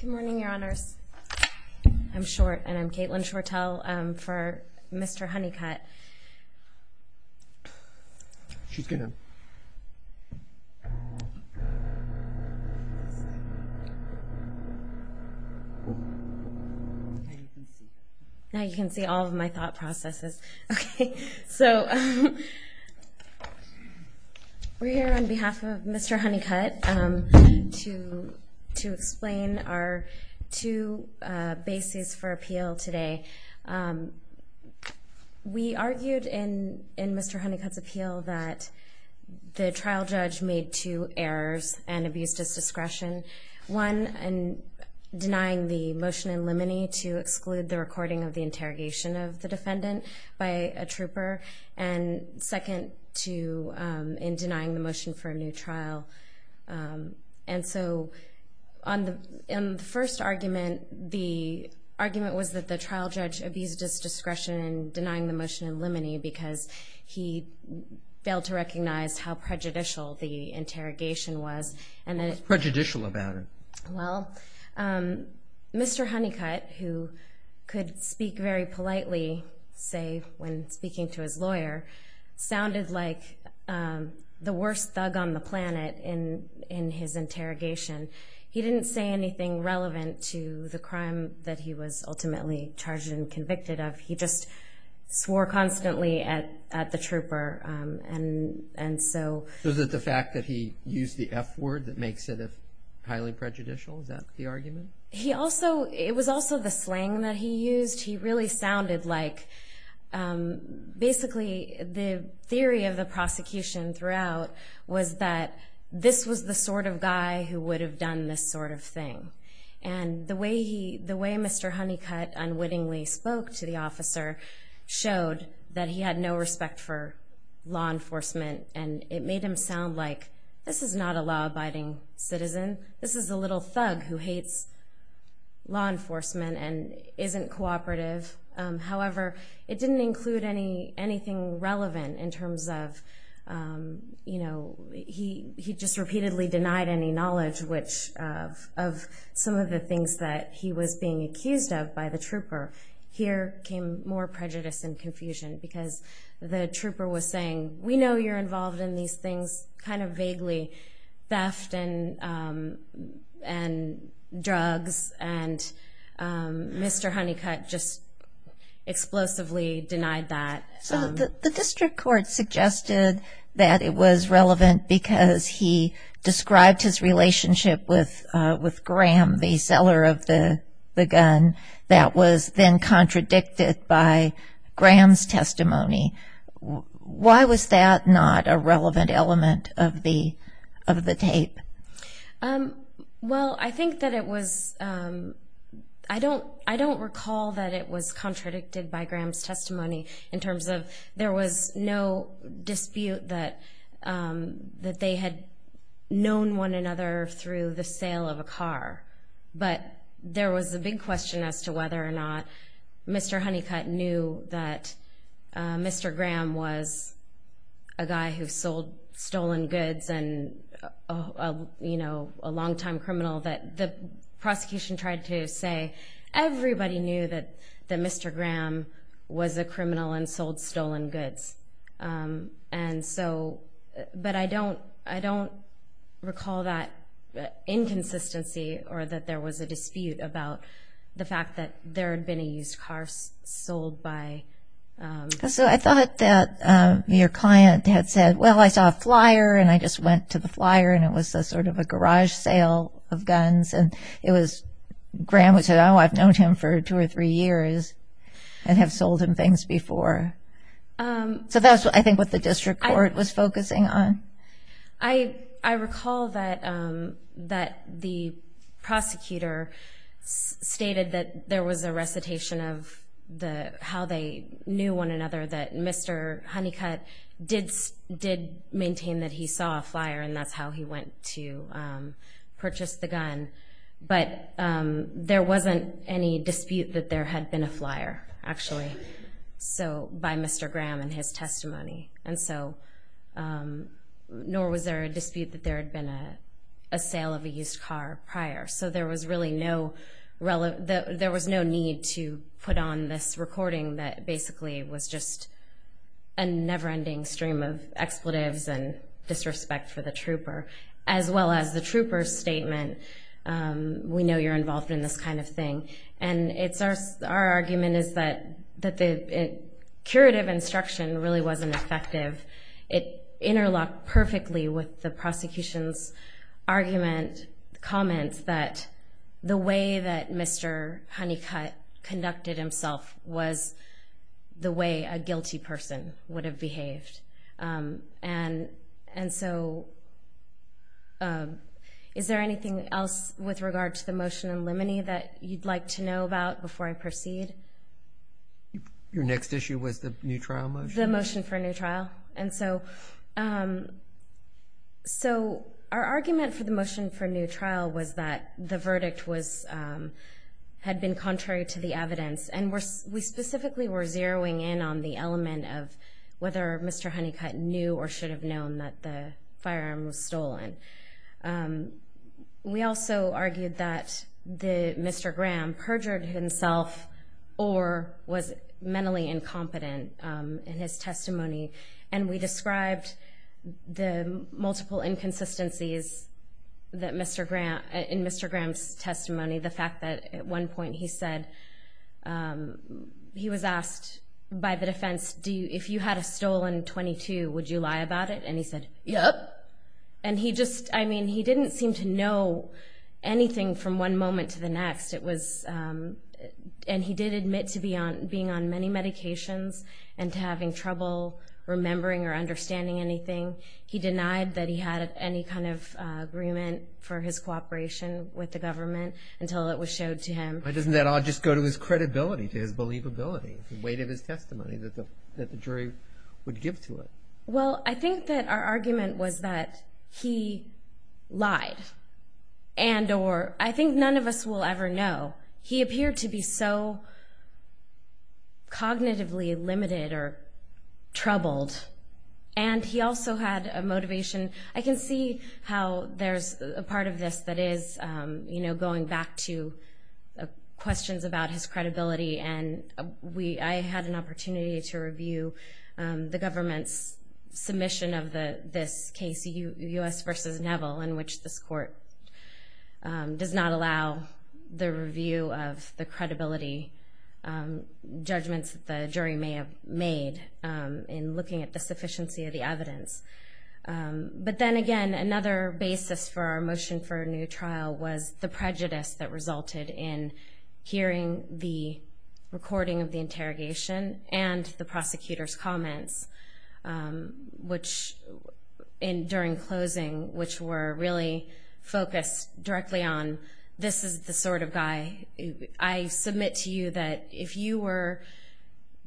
Good morning, your honors. I'm Short and I'm Caitlin Shortell for Mr. Honeycutt. She's good now. Now you can see all of my thought processes. Okay, so we're here on behalf of Mr. Honeycutt to explain our two bases for appeal today. We argued in Mr. Honeycutt's appeal that the trial judge made two errors and abused his discretion. One, in denying the motion in limine to exclude the recording of the interrogation of the defendant by a trooper and second to in denying the trial. And so on the in the first argument, the argument was that the trial judge abused his discretion in denying the motion in limine because he failed to recognize how prejudicial the interrogation was. What's prejudicial about it? Well, Mr. Honeycutt, who could speak very politely, say when speaking to his lawyer, sounded like the worst thug on the planet in in his interrogation. He didn't say anything relevant to the crime that he was ultimately charged and convicted of. He just swore constantly at at the trooper and and so. Was it the fact that he used the f-word that makes it highly prejudicial? Is that the argument? He also, it was also the slang that he used. He really sounded like basically the theory of the prosecution throughout was that this was the sort of guy who would have done this sort of thing. And the way he, the way Mr. Honeycutt unwittingly spoke to the officer showed that he had no respect for law enforcement. And it made him sound like this is not a law abiding citizen. This is a little thug who hates law enforcement and isn't cooperative. However, it didn't include any anything relevant in terms of, you know, he he just repeatedly denied any knowledge which of some of the things that he was being accused of by the trooper. Here came more prejudice and confusion because the trooper was saying, we know you're involved in these things kind of vaguely. Theft and and drugs and Mr. Honeycutt just explosively denied that. So the district court suggested that it was relevant because he described his relationship with with Graham, the seller of the gun that was then contradicted by Graham's testimony. Why was that not a relevant element of the of the tape? Well, I think that it was I don't I don't recall that it was contradicted by Graham's testimony in terms of there was no dispute that that they had known one another through the sale of a car. But there was a big question as to whether or not Mr. Honeycutt knew that Mr. Graham was a guy who sold stolen goods and, you know, a longtime criminal that the prosecution tried to say everybody knew that that Mr. Graham was a criminal and sold stolen goods. And so, but I don't I don't recall that inconsistency or that there was a dispute about the there had been a used car sold by. So I thought that your client had said, well, I saw a flyer and I just went to the flyer and it was a sort of a garage sale of guns. And it was Graham who said, oh, I've known him for two or three years and have sold him things before. So that's what I think what the district court was focusing on. I recall that that the prosecutor stated that there was a recitation of the how they knew one another that Mr. Honeycutt did did maintain that he saw a flyer and that's how he went to purchase the gun. But there wasn't any dispute that there had been a flyer, actually. So by Mr. Graham and his testimony. And so nor was there a dispute that there had been a sale of a used car prior. So there was really no relevant, there was no need to put on this recording that basically was just a never ending stream of expletives and disrespect for the trooper, as well as the trooper statement. We know you're involved in this kind of thing. And it's our argument is that that the curative instruction really wasn't effective. It interlocked perfectly with the prosecution's argument, comments that the way that Mr. Honeycutt conducted himself was the way a guilty person would have behaved. And, and so is there anything else with regard to the motion in limine that you'd like to know about before I proceed? Your next issue was the new trial motion for a new trial. And so, um, so our argument for the motion for new trial was that the verdict was, um, had been contrary to the evidence. And we specifically were zeroing in on the element of whether Mr. Honeycutt knew or should have known that the firearm was the, Mr. Graham perjured himself or was mentally incompetent, um, in his testimony. And we described the multiple inconsistencies that Mr. Graham, in Mr. Graham's testimony, the fact that at one point he said, um, he was asked by the defense, do you, if you had a stolen 22, would you lie about it? And he said, yep. And he just, I mean, he didn't seem to know anything from one moment to the next. It was, um, and he did admit to be on, being on many medications and to having trouble remembering or understanding anything. He denied that he had any kind of, uh, agreement for his cooperation with the government until it was showed to him. Why doesn't that all just go to his credibility, to his believability, the weight of his testimony that the, that the jury would give to it? Well, I think that our argument was that he lied and, or I think none of us will ever know. He appeared to be so cognitively limited or troubled. And he also had a motivation. I can see how there's a part of this that is, um, you know, going back to questions about his credibility. And we, I had an submission of the, this case, US versus Neville, in which this court, um, does not allow the review of the credibility, um, judgments that the jury may have made, um, in looking at the sufficiency of the evidence. Um, but then again, another basis for our motion for a new trial was the prejudice that resulted in hearing the recording of the interrogation and the prosecutor's comments, um, which in during closing, which were really focused directly on this is the sort of guy I submit to you that if you were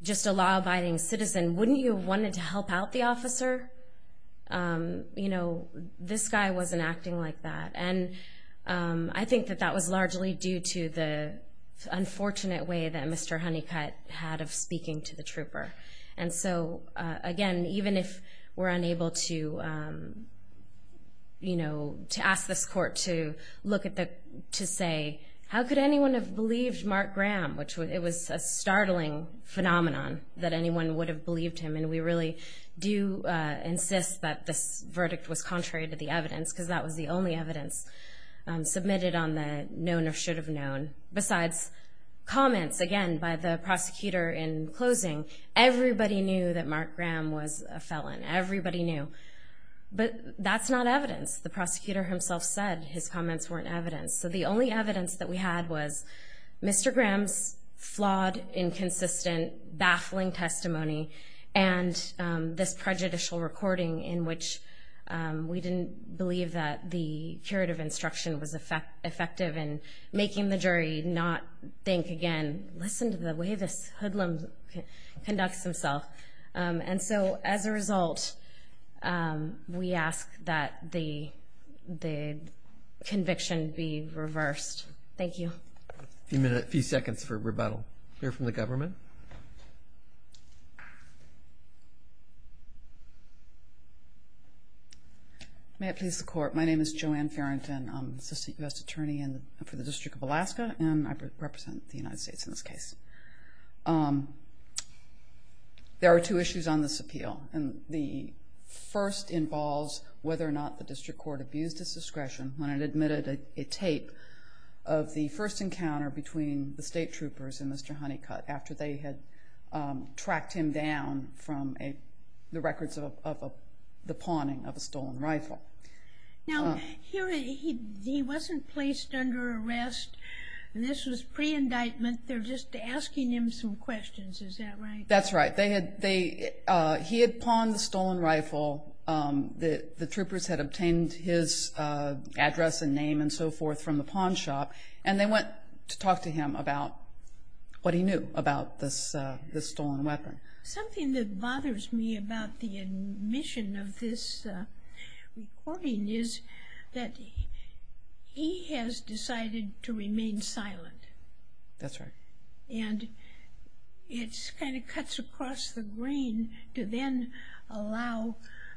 just a law abiding citizen, wouldn't you have wanted to help out the officer? Um, you know, this guy wasn't acting like that. And, um, I think that that was largely due to the unfortunate way that Mr. Honeycutt had of speaking to the trooper. And so, uh, again, even if we're unable to, um, you know, to ask this court to look at the, to say, how could anyone have believed Mark Graham, which was, it was a startling phenomenon that anyone would have believed him. And we really do, uh, this verdict was contrary to the evidence because that was the only evidence, um, submitted on the known or should have known besides comments again, by the prosecutor in closing, everybody knew that Mark Graham was a felon. Everybody knew, but that's not evidence. The prosecutor himself said his comments weren't evidence. So the only evidence that we had was Mr. Graham's flawed, inconsistent, baffling testimony. And, um, this prejudicial recording in which, um, we didn't believe that the curative instruction was effect, effective in making the jury not think again, listen to the way this hoodlum conducts himself. Um, and so as a result, um, we ask that the, the conviction be reversed. Thank you. A few minutes, a few seconds for rebuttal here from the court. May it please the court. My name is Joanne Farrington. I'm Assistant U.S. Attorney for the District of Alaska, and I represent the United States in this case. Um, there are two issues on this appeal, and the first involves whether or not the district court abused its discretion when it admitted a, a tape of the first encounter between the state troopers and Mr. Honeycutt after they had, um, tracked him down from a, the records of, of a, the pawning of a stolen rifle. Now here, he, he wasn't placed under arrest, and this was pre indictment. They're just asking him some questions. Is that right? That's right. They had, they, uh, he had pawned the stolen rifle. Um, the, the troopers had obtained his, uh, address and name and so forth from the pawn shop, and they went to talk to him about what he knew about this, uh, this stolen weapon. Something that bothers me about the admission of this, uh, recording is that he, he has decided to remain silent. That's right. And it's kind of cuts across the grain to then allow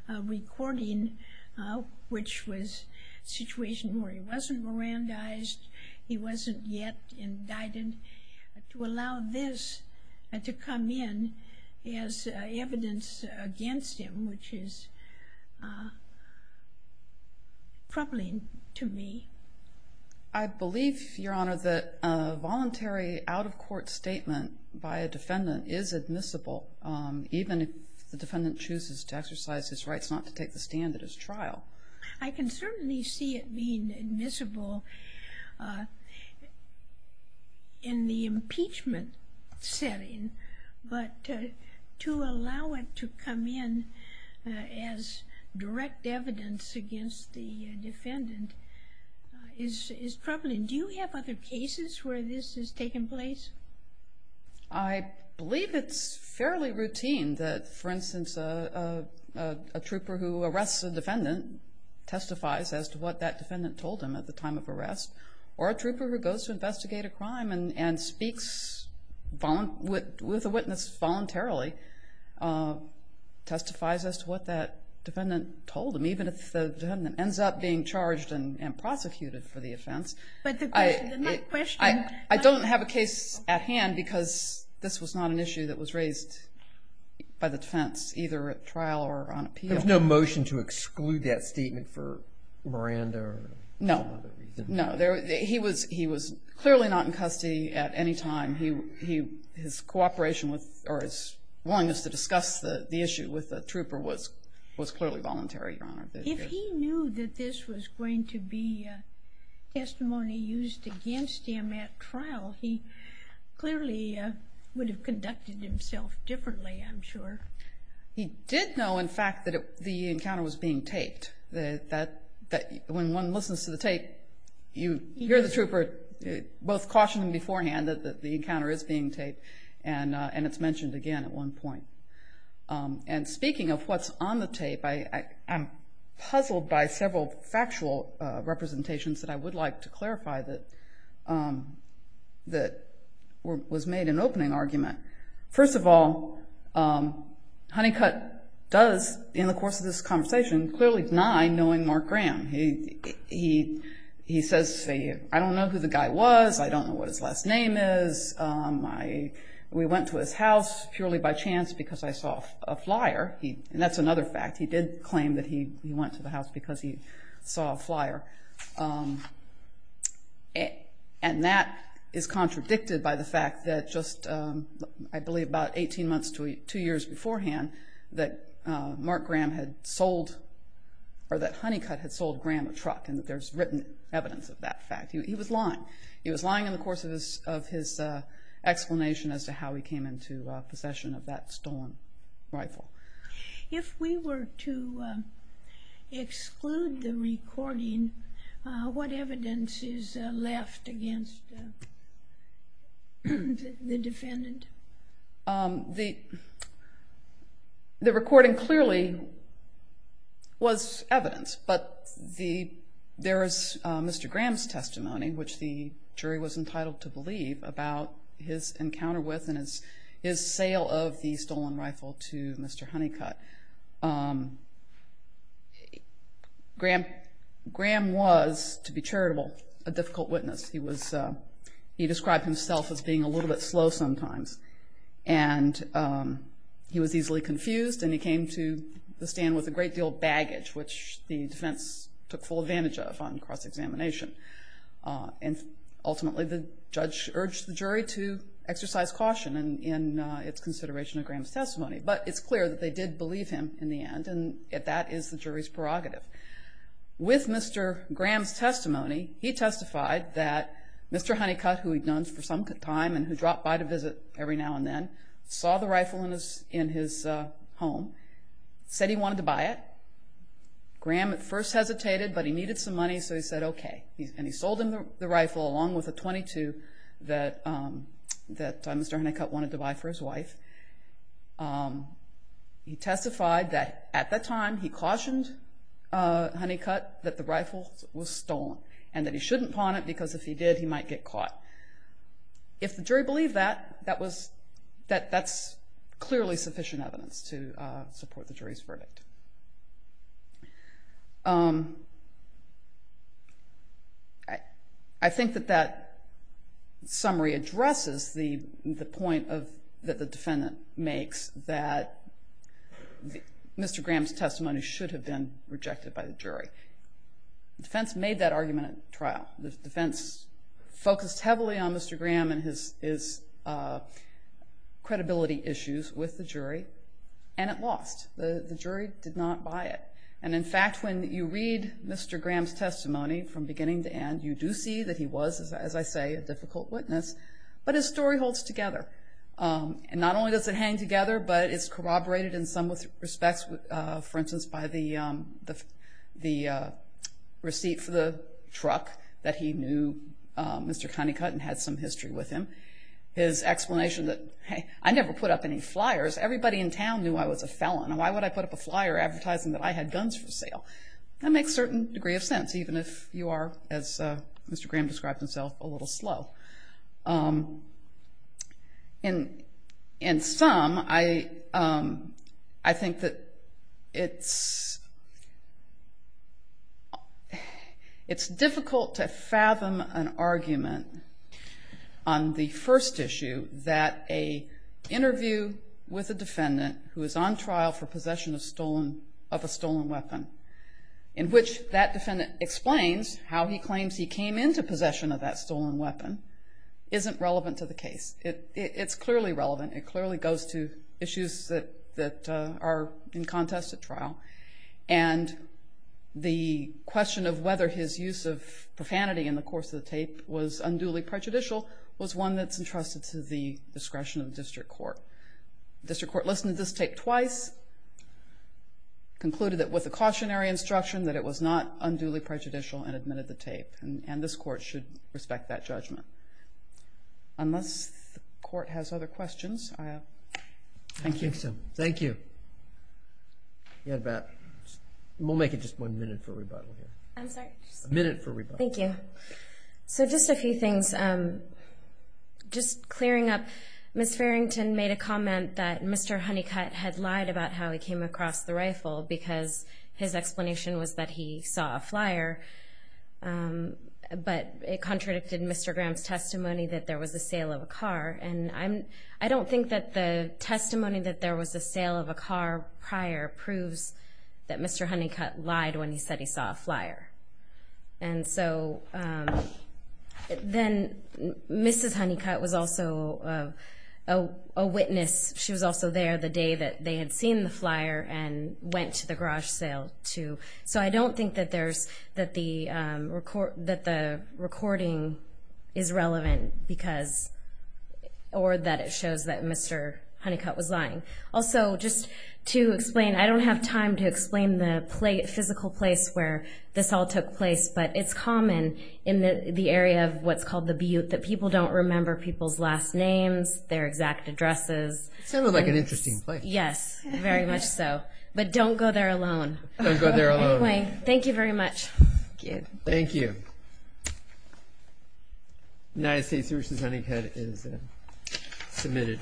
a recording, uh, which was a situation where he wasn't Mirandized, he wasn't yet indicted, to allow this, uh, to come in as evidence against him, which is, uh, troubling to me. I believe, Your Honor, that a voluntary out-of-court statement by a defendant is admissible, um, even if the defendant chooses to exercise his rights not to take the stand at his discretion, is admissible, uh, in the impeachment setting. But, uh, to allow it to come in, uh, as direct evidence against the defendant, uh, is, is troubling. Do you have other cases where this has taken place? I believe it's fairly routine that, for instance, a, a, a trooper who arrests a defendant testifies as to what that defendant told him at the time of arrest, or a trooper who goes to investigate a crime and, and speaks volun-, with, with a witness voluntarily, uh, testifies as to what that defendant told him, even if the defendant ends up being charged and, and prosecuted for the offense. But the question, the next question. I, I don't have a case at hand because this was not an issue that was raised by the defense, either at trial or on appeal. There's no motion to exclude that statement for Miranda or some other reason? No. No. There, he was, he was clearly not in custody at any time. He, he, his cooperation with, or his willingness to discuss the, the issue with the trooper was, was clearly voluntary, Your Honor. If he knew that this was going to be, uh, testimony used against him at trial, he clearly, uh, would have conducted himself differently, I'm sure. He did know, in fact, that it, the encounter was being taped. That, that, that, when one listens to the tape, you hear the trooper both cautioning beforehand that, that the encounter is being taped. And, uh, and it's mentioned again at one point. Um, and speaking of what's on the tape, I, I, I'm puzzled by several factual, uh, representations that I would like to So, um, Honeycutt does, in the course of this conversation, clearly deny knowing Mark Graham. He, he, he says, say, I don't know who the guy was. I don't know what his last name is. Um, I, we went to his house purely by chance because I saw a flyer. He, and that's another fact. He did claim that he, he went to the house because he saw a flyer. Um, and that is contradicted by the fact that just, um, I believe it was 18 months to two years beforehand that, uh, Mark Graham had sold, or that Honeycutt had sold Graham a truck, and that there's written evidence of that fact. He, he was lying. He was lying in the course of his, of his, uh, explanation as to how he came into, uh, possession of that stolen rifle. If we were to, um, exclude the recording, uh, what evidence is, uh, left against, uh, the defendant? Um, the, the recording clearly was evidence, but the, there is, uh, Mr. Graham's testimony, which the jury was entitled to believe, about his encounter with and his, his sale of the stolen rifle to Mr. Honeycutt. Um, Graham, was, to be charitable, a difficult witness. He was, uh, he described himself as being a little bit slow sometimes, and, um, he was easily confused, and he came to the stand with a great deal of baggage, which the defense took full advantage of on cross-examination. Uh, and ultimately, the judge urged the jury to exercise caution in, in, uh, its consideration of Graham's testimony. But it's clear that they did believe him in the end, and that is the jury's conclusion. With Mr. Graham's testimony, he testified that Mr. Honeycutt, who he'd known for some time and who dropped by to visit every now and then, saw the rifle in his, in his, uh, home, said he wanted to buy it. Graham at first hesitated, but he needed some money, so he said, okay. And he sold him the, the rifle, along with a .22 that, um, that, uh, Mr. Honeycutt wanted to buy for his home. Um, he testified that at that time, he cautioned, uh, Honeycutt that the rifle was stolen, and that he shouldn't pawn it, because if he did, he might get caught. If the jury believed that, that was, that, that's clearly sufficient evidence to, uh, support the jury's verdict. Um, I, I think that that summary addresses the, the point of, that the defendant makes, that Mr. Graham's testimony should have been rejected by the jury. The defense made that argument at trial. The defense focused heavily on Mr. Graham and his, his, uh, credibility issues with the jury, and it lost. The, the jury did not buy it. And in fact, when you read Mr. Graham's testimony from beginning to end, you do see that he was, as, as I say, a difficult witness. But his story holds together. Um, and not only does it hang together, but it's corroborated in some respects, uh, for instance, by the, um, the, the, uh, receipt for the truck that he knew, um, Mr. Honeycutt and had some history with him. His explanation that, hey, I never put up any flyers. Everybody in town knew I was a felon, and why would I put up a flyer advertising that I had guns for sale? That makes certain degree of sense, even if you are, as, uh, Mr. Graham described himself, a little slow. Um, and, and some, I, um, I think that it's, it's difficult to fathom an argument on the first issue that a interview with a defendant who is on trial for possession of stolen, of a stolen weapon, in which that defendant explains how he claims he came into possession of that stolen weapon, isn't relevant to the case. It, it, it's clearly relevant. It clearly goes to issues that, that, uh, are in contest at trial. And the question of whether his use of profanity in the course of the tape was unduly prejudicial was one that's entrusted to the discretion of the district court. The district court listened to this tape twice, concluded that with a cautionary instruction, that it was not unduly prejudicial, and admitted the tape. And, and this court should respect that judgment. Unless the court has other questions, I, uh, thank you. Thank you. You had about, we'll make it just one minute for rebuttal here. I'm sorry? A minute for rebuttal. So, uh, coming up, Ms. Farrington made a comment that Mr. Honeycutt had lied about how he came across the rifle because his explanation was that he saw a flyer. Um, but it contradicted Mr. Graham's testimony that there was a sale of a car. And I'm, I don't think that the testimony that there was a sale of a car prior proves that Mr. Honeycutt lied when he said he saw a flyer. And so, um, then Mrs. Honeycutt was also, uh, a witness. She was also there the day that they had seen the flyer and went to the garage sale too. So I don't think that there's, that the, um, record, that the recording is relevant because, or that it shows that Mr. Honeycutt was lying. Also, just to explain, I don't have time to explain the physical place where this all took place, but it's common in the area of what's called the Butte, that people don't remember people's last names, their exact addresses. Sounds like an interesting place. Yes, very much so. But don't go there alone. Don't go there alone. Anyway, thank you very much. Thank you. United States Services, Honeycutt is submitted.